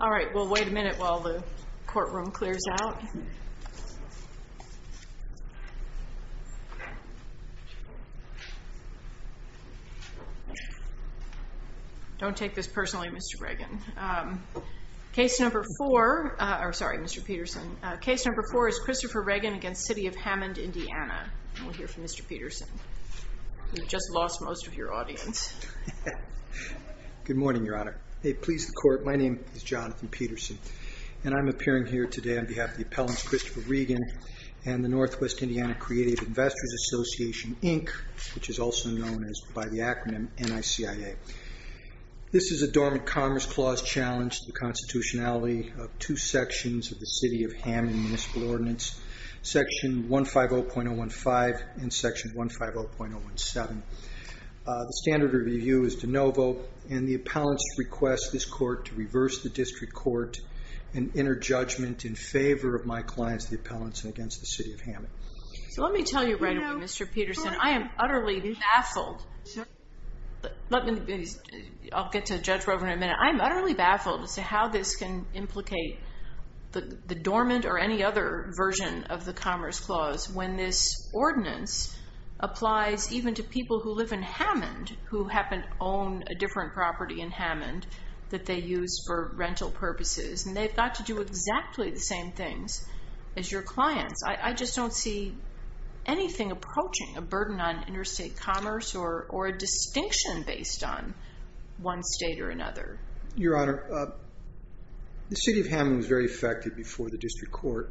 Alright we'll wait a minute while the courtroom clears out. Don't take this personally Mr. Reagan. Case number four, I'm sorry Mr. Peterson, case number four is Christopher Reagan against City of Hammond, Indiana. We'll hear from Mr. Peterson. You've just lost most of your audience. Good morning Your Honor. May it please the court, my name is Jonathan Peterson and I'm appearing here today on behalf of the appellants Christopher Reagan and the Northwest Indiana Creative Investors Association Inc. which is also known as by the acronym NICIA. This is a dormant Commerce Clause challenge to the constitutionality of two sections of the City of Hammond Municipal Ordinance, section 150.015 and section 150.017. The standard review is de novo and the appellants request this court to reverse the district court and enter judgment in favor of my clients the appellants against the City of Hammond. So let me tell you right away Mr. Peterson, I am utterly baffled. I'll get to Judge Rovner in a minute. I'm utterly baffled as to how this can implicate the dormant or any other version of the Commerce Clause when this ordinance applies even to people who live in Hammond who happen to own a different property in Hammond that they use for rental purposes and they've got to do exactly the same things as your clients. I just don't see anything approaching a burden on interstate commerce or a distinction based on one state or another. Your Honor, the City of Hammond was very effective before the district court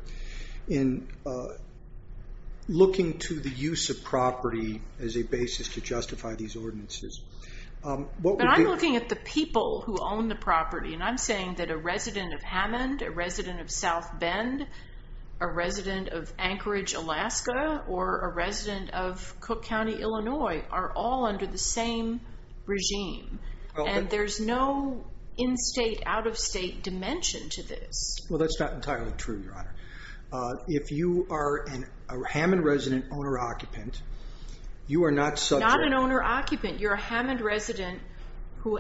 in looking to the use of property as a basis to justify these ordinances. But I'm looking at the people who own the property and I'm saying that a resident of Hammond, a resident of South Bend, a resident of Cook County, Illinois are all under the same regime and there's no in-state, out-of-state dimension to this. Well that's not entirely true, Your Honor. If you are a Hammond resident owner-occupant, you are not subject... Not an owner-occupant. You're a Hammond resident who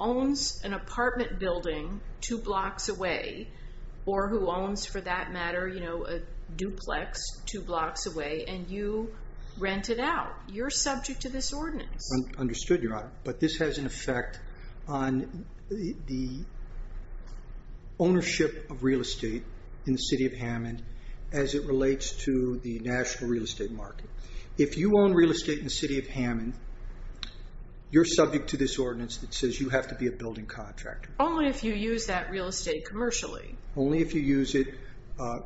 owns an apartment building two blocks away or who rented out. You're subject to this ordinance. Understood, Your Honor, but this has an effect on the ownership of real estate in the City of Hammond as it relates to the national real estate market. If you own real estate in the City of Hammond, you're subject to this ordinance that says you have to be a building contractor. Only if you use that real estate commercially. Only if you use it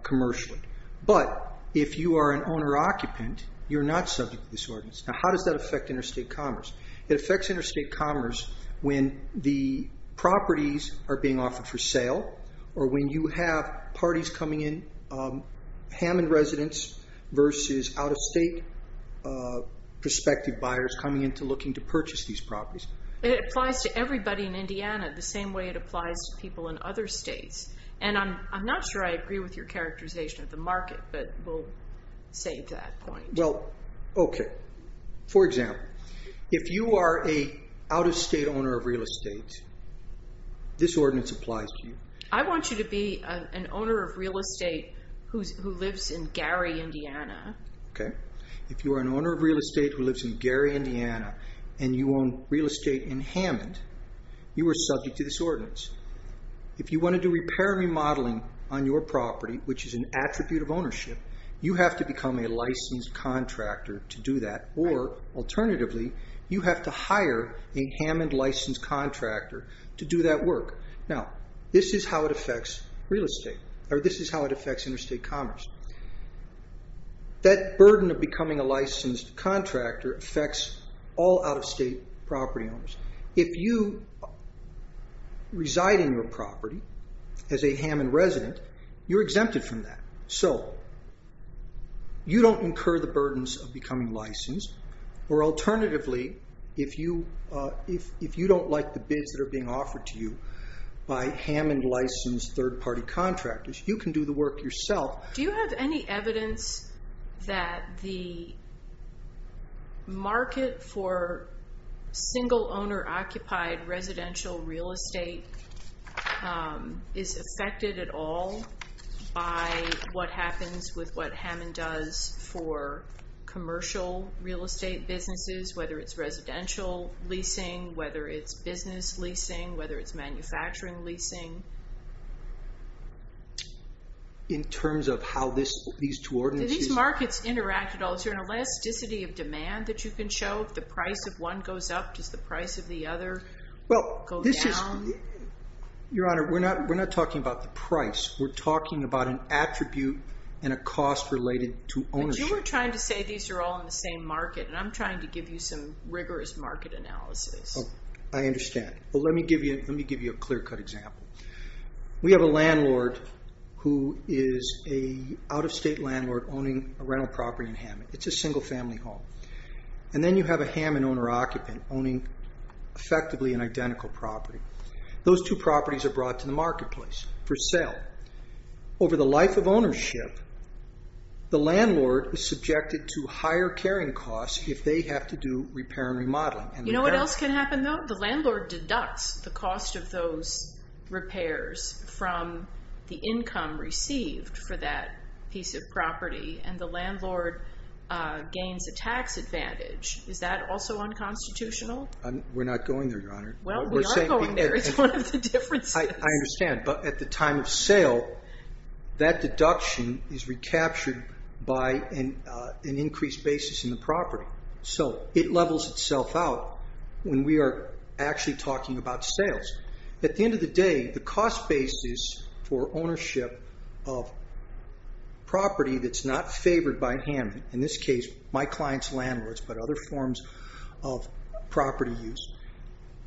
commercially. But if you are an owner-occupant, you're not subject to this ordinance. Now how does that affect interstate commerce? It affects interstate commerce when the properties are being offered for sale or when you have parties coming in, Hammond residents versus out-of-state prospective buyers coming into looking to purchase these properties. It applies to everybody in I agree with your characterization of the market, but we'll save that point. Well, okay. For example, if you are a out-of-state owner of real estate, this ordinance applies to you. I want you to be an owner of real estate who lives in Gary, Indiana. Okay. If you are an owner of real estate who lives in Gary, Indiana and you own real estate in Hammond, you are subject to this ordinance. If you want to do repair and remodeling on your property, which is an attribute of ownership, you have to become a licensed contractor to do that. Or, alternatively, you have to hire a Hammond licensed contractor to do that work. Now, this is how it affects real estate, or this is how it affects interstate commerce. That burden of becoming a licensed contractor affects all out-of-state property owners. If you reside in your property as a Hammond resident, you're exempted from that. So, you don't incur the burdens of becoming licensed. Or, alternatively, if you don't like the bids that are being offered to you by Hammond licensed third-party contractors, you can do the work yourself. Do you have any concern that owner-occupied residential real estate is affected at all by what happens with what Hammond does for commercial real estate businesses, whether it's residential leasing, whether it's business leasing, whether it's manufacturing leasing? In terms of how these two ordinances... Do these markets interact at all? Is there an elasticity of demand that you can show? If the price of one goes up, does the price of the other go down? Your Honor, we're not talking about the price. We're talking about an attribute and a cost related to ownership. But you were trying to say these are all in the same market, and I'm trying to give you some rigorous market analysis. I understand. Let me give you a clear-cut example. We have a landlord who is an out-of-state landlord owning a rental property in Hammond. It's a single-family home. And then you have a Hammond owner- effectively an identical property. Those two properties are brought to the marketplace for sale. Over the life of ownership, the landlord is subjected to higher carrying costs if they have to do repair and remodeling. You know what else can happen, though? The landlord deducts the cost of those repairs from the income received for that piece of property, and the landlord gains a tax advantage. Is that also unconstitutional? We're not going there, Your Honor. Well, we are going there. It's one of the differences. I understand. But at the time of sale, that deduction is recaptured by an increased basis in the property. So it levels itself out when we are actually talking about sales. At the end of the day, the cost basis for ownership of property that's not favored by Hammond- in this case, my client's landlord's, but other forms of property- use-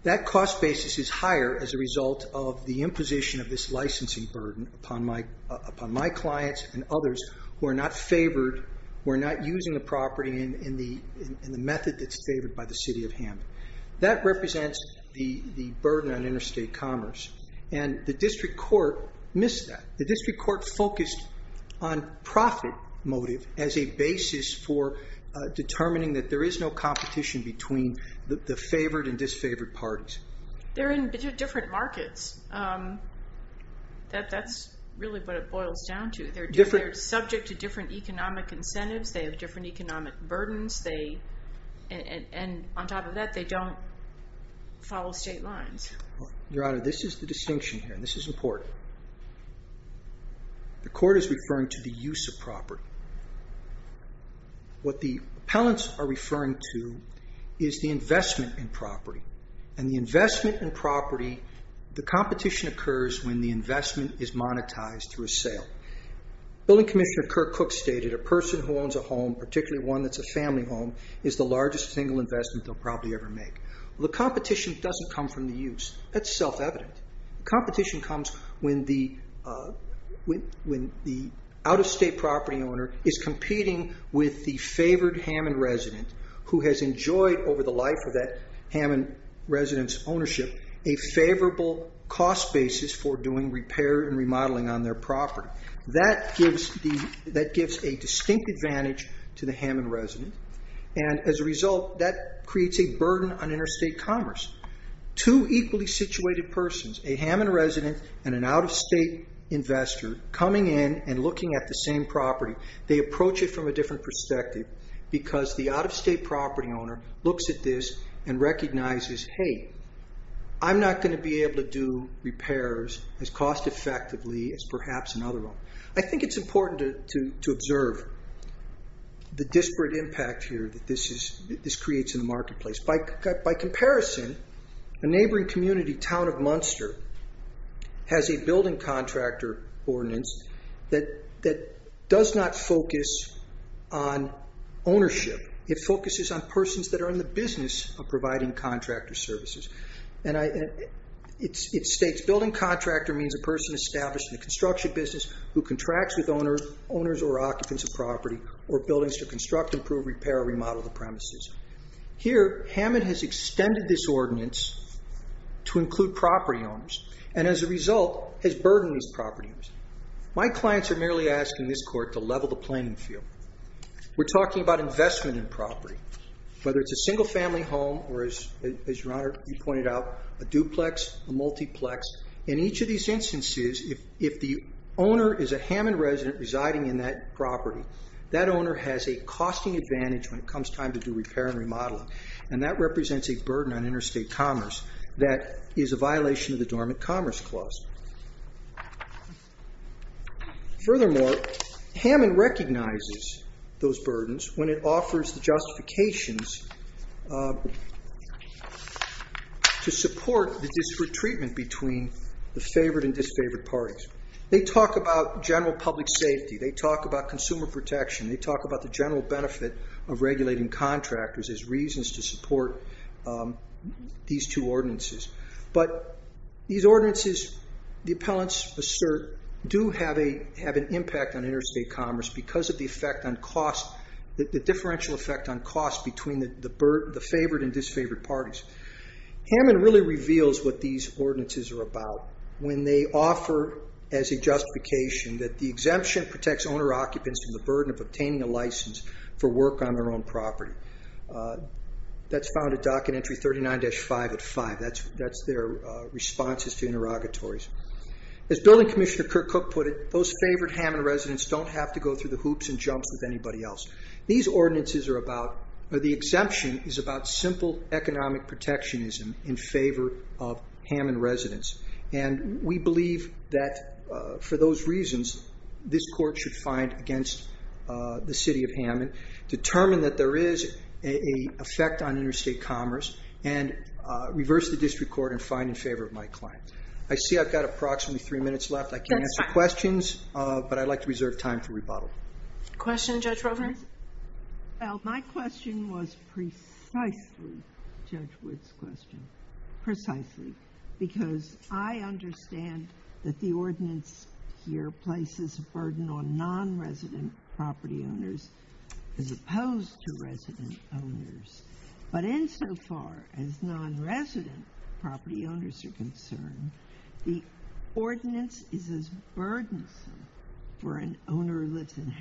that cost basis is higher as a result of the imposition of this licensing burden upon my clients and others who are not using the property in the method that's favored by the city of Hammond. That represents the burden on interstate commerce. And the district court missed that. The district court focused on profit motive as a basis for determining that there is no competition between the favored and disfavored parties. They're in different markets. That's really what it boils down to. They're subject to different economic incentives. They have different economic burdens. And on top of that, they don't follow state lines. Your Honor, this is the distinction here, and this is important. The court is referring to the use of property. What the appellants are referring to is the investment in property. And the investment in property- the competition occurs when the investment is monetized through a sale. Building Commissioner Kirk Cook stated, a person who owns a home, particularly one that's a family home, is the largest single investment they'll probably ever make. Well, the competition doesn't come from the use. That's self-evident. Competition comes when the out-of-state property owner is competing with the favored Hammond resident who has enjoyed over the life of that Hammond resident's ownership a favorable cost basis for doing repair and remodeling on their property. That gives a distinct advantage to the Hammond resident. And as a result, that creates a burden on interstate commerce. Two equally situated persons, a Hammond resident and an out-of-state investor, coming in and looking at the same property. They approach it from a different perspective because the out-of-state property owner looks at this and recognizes, hey, I'm not going to be able to do repairs as cost-effectively as perhaps another one. I think it's important to observe the disparate impact here that this creates in the marketplace. By comparison, a neighboring community, Town of Munster, has a building contractor ordinance that does not focus on ownership. It focuses on persons that are in the business of providing contractor services. And it states, building contractor means a person established in the construction business who contracts with owners or occupants of property or buildings to construct, improve, repair, or remodel the premises. Here, Hammond has extended this ordinance to include property owners and as a result has burdened these property owners. My clients are merely asking this court to level the playing field. We're talking about investment in property, whether it's a single family home or, as your Honor, you pointed out, a duplex, a multiplex. In each of these instances, if the owner is a Hammond resident residing in that property, that owner has a costing advantage when it comes time to do repair and remodeling. And that represents a burden on interstate commerce that is a violation of the Dormant Commerce Clause. Furthermore, Hammond recognizes those burdens when it offers the justifications to support the disparate treatment between the favored and disfavored parties. They talk about general public safety. They talk about consumer protection. They talk about the general benefit of regulating contractors as reasons to support these two ordinances. But these ordinances, the appellants assert, do have an impact on interstate commerce because of the differential effect on cost between the favored and disfavored parties. Hammond really reveals what these ordinances are about when they offer as a justification that the exemption protects owner-occupants from the burden of obtaining a license for work on their own property. That's found at Docket Entry 39-5 at 5. That's their responses to interrogatories. As Building Commissioner Kirk Cook put it, those favored Hammond residents don't have to go through the hoops and jumps with anybody else. These ordinances are about, the exemption is about simple economic protectionism in favor of Hammond residents. We believe that for those reasons, this court should find against the city of Hammond, determine that there is an effect on interstate commerce, and reverse the district court and find in favor of my client. I see I've got approximately three minutes left. I can't answer questions, but I'd like to reserve time for rebuttal. Question, Judge Rovner?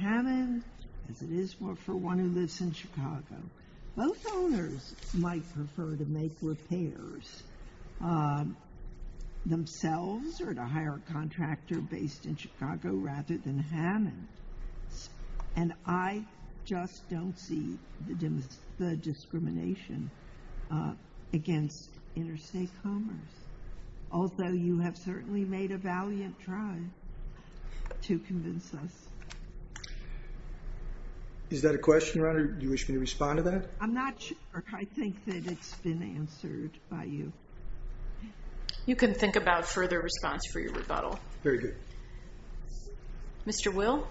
Hammond, as it is for one who lives in Chicago, both owners might prefer to make repairs themselves or to hire a contractor based in Chicago rather than Hammond. And I just don't see the discrimination against interstate commerce. Although you have certainly made a valiant try to convince us. Is that a question, Rovner? Do you wish me to respond to that? I'm not sure. I think that it's been answered by you. You can think about further response for your rebuttal. Very good. Mr. Will?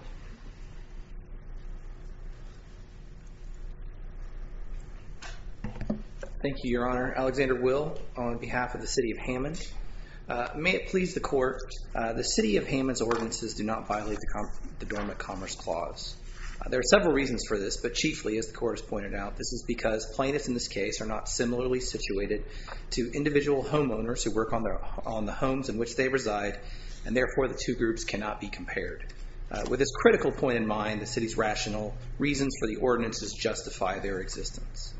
Thank you, Your Honor. Alexander Will on behalf of the city of Hammond. May it please the court, the city of Hammond's ordinances do not violate the Dormant Commerce Clause. There are several reasons for this, but chiefly, as the court has pointed out, this is because plaintiffs in this case are not similarly situated to individual homeowners who work on the homes in which they reside, and therefore the two groups cannot be compared. With this critical point in mind, the city's rational reasons for the ordinances justify their existence.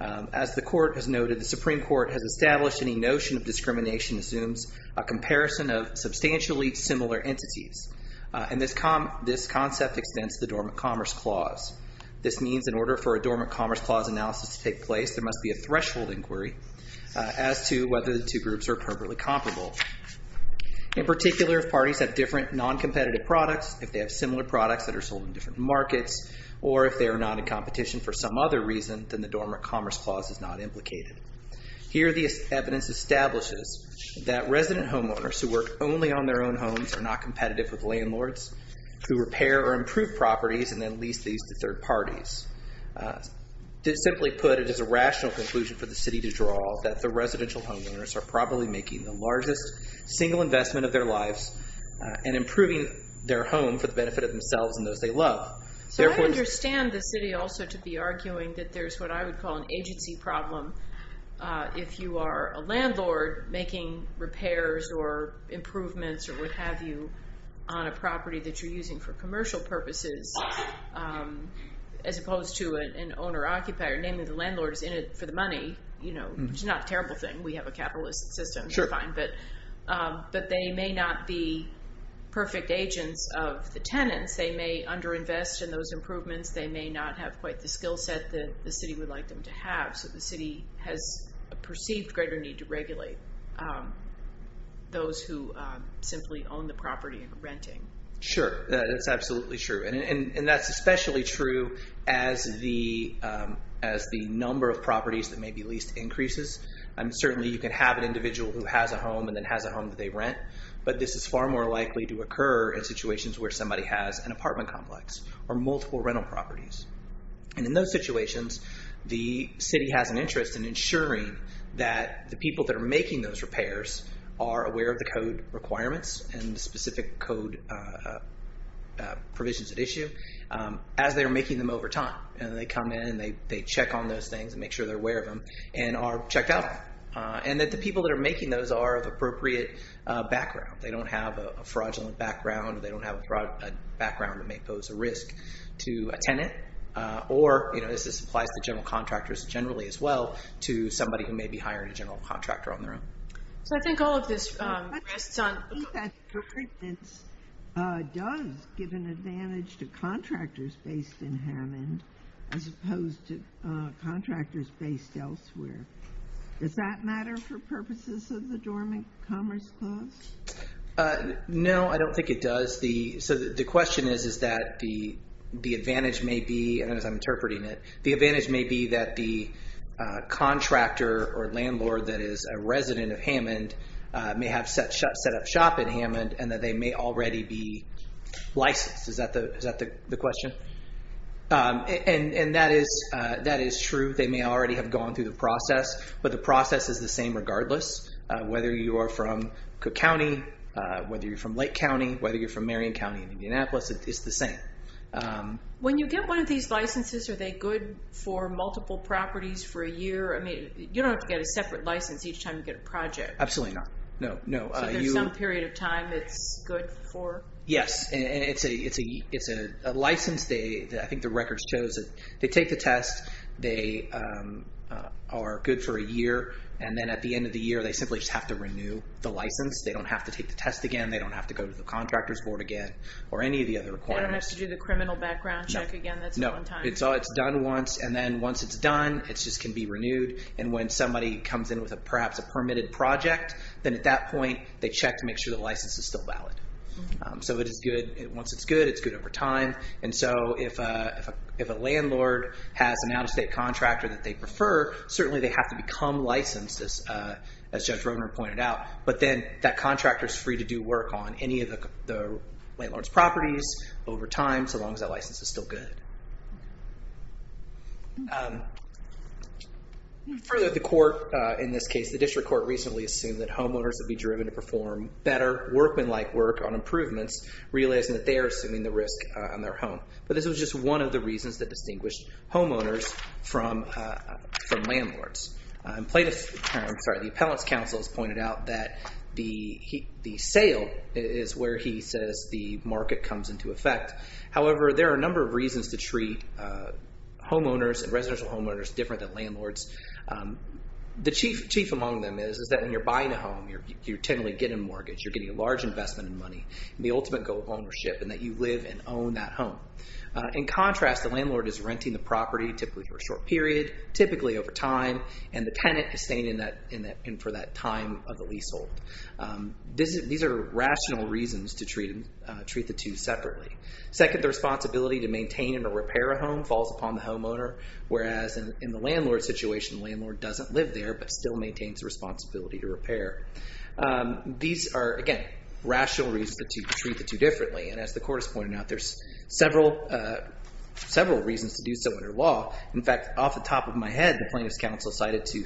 As the court has noted, the Supreme Court has established any notion of discrimination assumes a comparison of substantially similar entities. And this concept extends to the Dormant Commerce Clause. This means in order for a Dormant Commerce Clause analysis to take place, there must be a threshold inquiry as to whether the two groups are appropriately comparable. In particular, if parties have different non-competitive products, if they have similar products that are sold in different markets, or if they are not in competition for some other reason, then the Dormant Commerce Clause is not implicated. Here the evidence establishes that resident homeowners who work only on their own homes are not competitive with landlords who repair or improve properties and then lease these to third parties. Simply put, it is a rational conclusion for the city to draw that the residential homeowners are probably making the largest single investment of their lives and improving their home for the benefit of themselves and those they love. So I understand the city also to be arguing that there's what I would call an agency problem. If you are a landlord making repairs or improvements or what have you on a property that you're using for commercial purposes, as opposed to an owner-occupier, namely the landlord is in it for the money. It's not a terrible thing. We have a capitalist system. You're fine. But they may not be perfect agents of the tenants. They may underinvest in those improvements. They may not have quite the skill set that the city would like them to have. So the city has a perceived greater need to regulate those who simply own the property and are renting. Sure. That's absolutely true. And that's especially true as the number of properties that may be leased increases. Certainly you can have an individual who has a home and then has a home that they rent. But this is far more likely to occur in situations where somebody has an apartment complex or multiple rental properties. And in those situations, the city has an interest in ensuring that the people that are making those repairs are aware of the code requirements and the specific code provisions at issue as they're making them over time. And they come in and they check on those things and make sure they're aware of them and are checked out. And that the people that are making those are of appropriate background. They don't have a fraudulent background. They don't have a background that may pose a risk to a tenant. Or, you know, this applies to general contractors generally as well to somebody who may be hiring a general contractor on their own. So I think all of this rests on- does give an advantage to contractors based in Hammond as opposed to contractors based elsewhere. Does that matter for purposes of the Dormant Commerce Clause? No, I don't think it does. So the question is that the advantage may be, as I'm interpreting it, the advantage may be that the contractor or landlord that is a resident of Hammond may have set up shop in Hammond and that they may already be licensed. Is that the question? And that is true. They may already have gone through the process. But the process is the same regardless. Whether you are from Cook County, whether you're from Lake County, whether you're from Marion County in Indianapolis, it's the same. When you get one of these licenses, are they good for multiple properties for a year? I mean, you don't have to get a separate license each time you get a project. Absolutely not. No, no. So there's some period of time it's good for? Yes. It's a license. I think the records show that they take the test. They are good for a year. And then at the end of the year, they simply just have to renew the license. They don't have to take the test again. They don't have to go to the contractor's board again or any of the other requirements. They don't have to do the criminal background check again. That's one time. No, it's done once. And then once it's done, it just can be renewed. And when somebody comes in with perhaps a permitted project, then at that point, they check to make sure the license is still valid. So it is good. Once it's good, it's good over time. And so if a landlord has an out-of-state contractor that they prefer, certainly they have to become licensed, as Judge Rogner pointed out. But then that contractor's free to do work on any of the landlord's properties over time, so long as that license is still good. Further, the court in this case, the district court recently assumed that homeowners would be driven to perform better workman-like work on improvements, realizing that they are assuming the risk on their home. But this was just one of the reasons that distinguished homeowners from landlords. The Appellant's counsel has pointed out that the sale is where he says the market comes into effect. However, there are a number of reasons to treat homeowners and residential homeowners different than landlords. The chief among them is that when you're buying a home, you're technically getting a mortgage, you're getting a large investment in money, and the ultimate goal of ownership, and that you live and own that home. In contrast, the landlord is renting the property, typically for a short period, typically over time, and the tenant is staying in for that time of the leasehold. These are rational reasons to treat the two separately. Second, the responsibility to maintain and repair a home falls upon the homeowner, whereas in the landlord situation, the landlord doesn't live there but still maintains a responsibility to repair. These are, again, rational reasons to treat the two differently. And as the court has pointed out, there's several reasons to do so under law. In fact, off the top of my head, the plaintiff's counsel cited to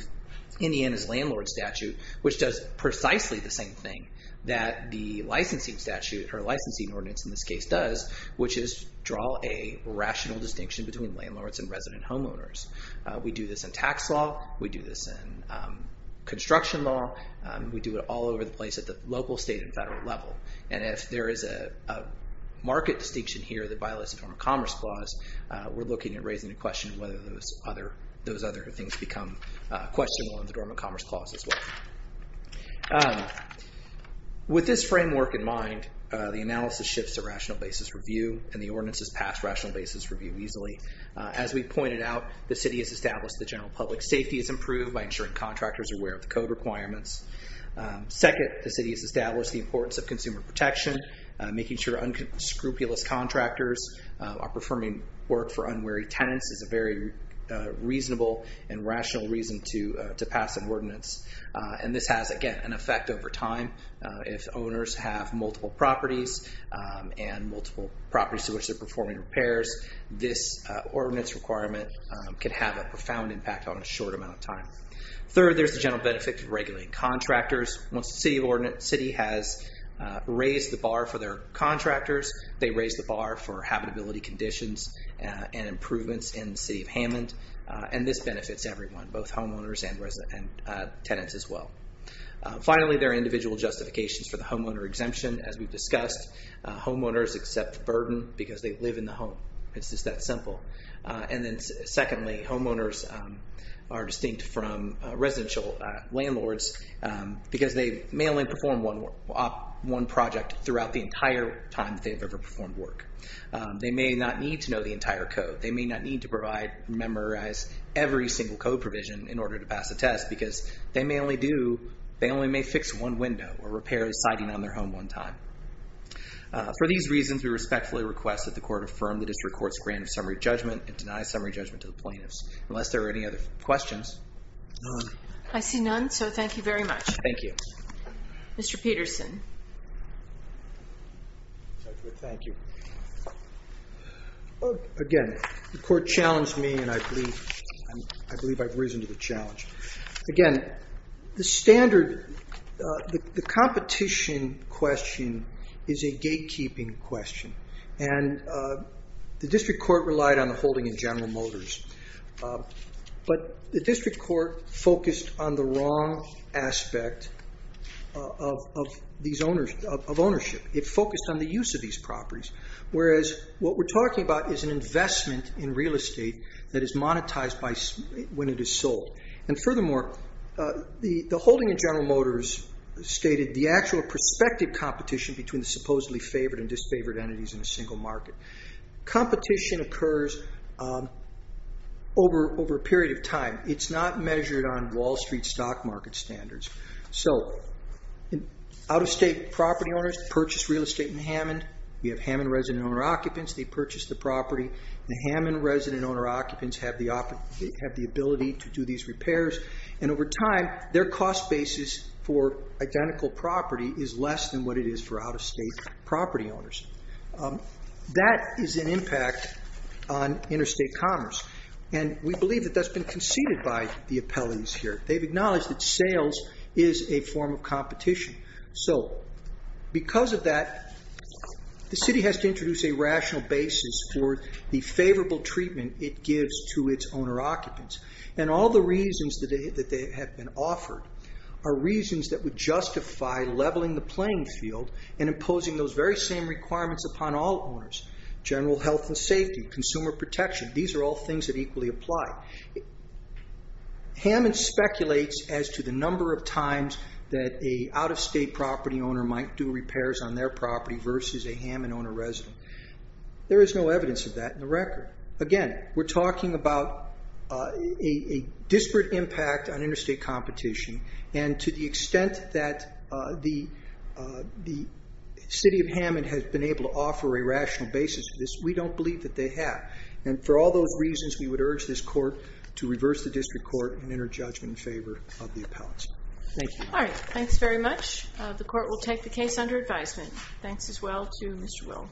Indiana's landlord statute, which does precisely the same thing that the licensing statute, or licensing ordinance in this case, does, which is draw a rational distinction between landlords and resident homeowners. We do this in tax law, we do this in construction law, we do it all over the place at the local, state, and federal level. And if there is a market distinction here that violates the Dormant Commerce Clause, we're looking at raising a question of whether those other things become questionable in the Dormant Commerce Clause as well. With this framework in mind, the analysis shifts to rational basis review, and the ordinances pass rational basis review easily. As we pointed out, the city has established that general public safety is improved by ensuring contractors are aware of the code requirements. Second, the city has established the importance of consumer protection, making sure unscrupulous contractors are performing work for unwary tenants is a very reasonable and this has, again, an effect over time. If owners have multiple properties and multiple properties to which they're performing repairs, this ordinance requirement can have a profound impact on a short amount of time. Third, there's the general benefit of regulating contractors. Once the city has raised the bar for their contractors, they raise the bar for habitability conditions and improvements in the city of Hammond, and this benefits everyone, both Finally, there are individual justifications for the homeowner exemption. As we've discussed, homeowners accept the burden because they live in the home. It's just that simple. And then secondly, homeowners are distinct from residential landlords because they may only perform one project throughout the entire time that they've ever performed work. They may not need to know the entire code. They may not need to provide and memorize every single code provision in order to pass a test because they may only do, they only may fix one window or repair a siding on their home one time. For these reasons, we respectfully request that the court affirm the district court's grant of summary judgment and deny summary judgment to the plaintiffs. Unless there are any other questions. None. I see none. So thank you very much. Thank you. Mr. Peterson. Thank you. Again, the court challenged me, and I believe I've risen to the challenge. Again, the standard, the competition question is a gatekeeping question. And the district court relied on the holding in General Motors. But the district court focused on the wrong aspect of ownership. It focused on the use of these properties, whereas what we're talking about is an investment in real estate that is monetized when it is sold. And furthermore, the holding in General Motors stated the actual prospective competition between the supposedly favored and disfavored entities in a single market. Competition occurs over a period of time. It's not measured on Wall Street stock market standards. So out-of-state property owners purchase real estate in Hammond. We have Hammond resident owner occupants. They purchase the property. The Hammond resident owner occupants have the ability to do these repairs. And over time, their cost basis for identical property is less than what it is for out-of-state property owners. That is an impact on interstate commerce. And we believe that that's been conceded by the appellees here. They've acknowledged that sales is a form of competition. So because of that, the city has to introduce a rational basis for the favorable treatment it gives to its owner occupants. And all the reasons that they have been offered are reasons that would justify leveling the playing field and imposing those very same requirements upon all owners. General health and safety, consumer protection, these are all things that equally apply. Hammond speculates as to the number of times that an out-of-state property owner might do repairs on their property versus a Hammond owner resident. There is no evidence of that in the record. Again, we're talking about a disparate impact on interstate competition. And to the extent that the city of Hammond has been able to offer a rational basis for this, we don't believe that they have. And for all those reasons, we would urge this court to reverse the district court and enter judgment in favor of the appellants. Thank you. All right. Thanks very much. The court will take the case under advisement. Thanks as well to Mr. Will.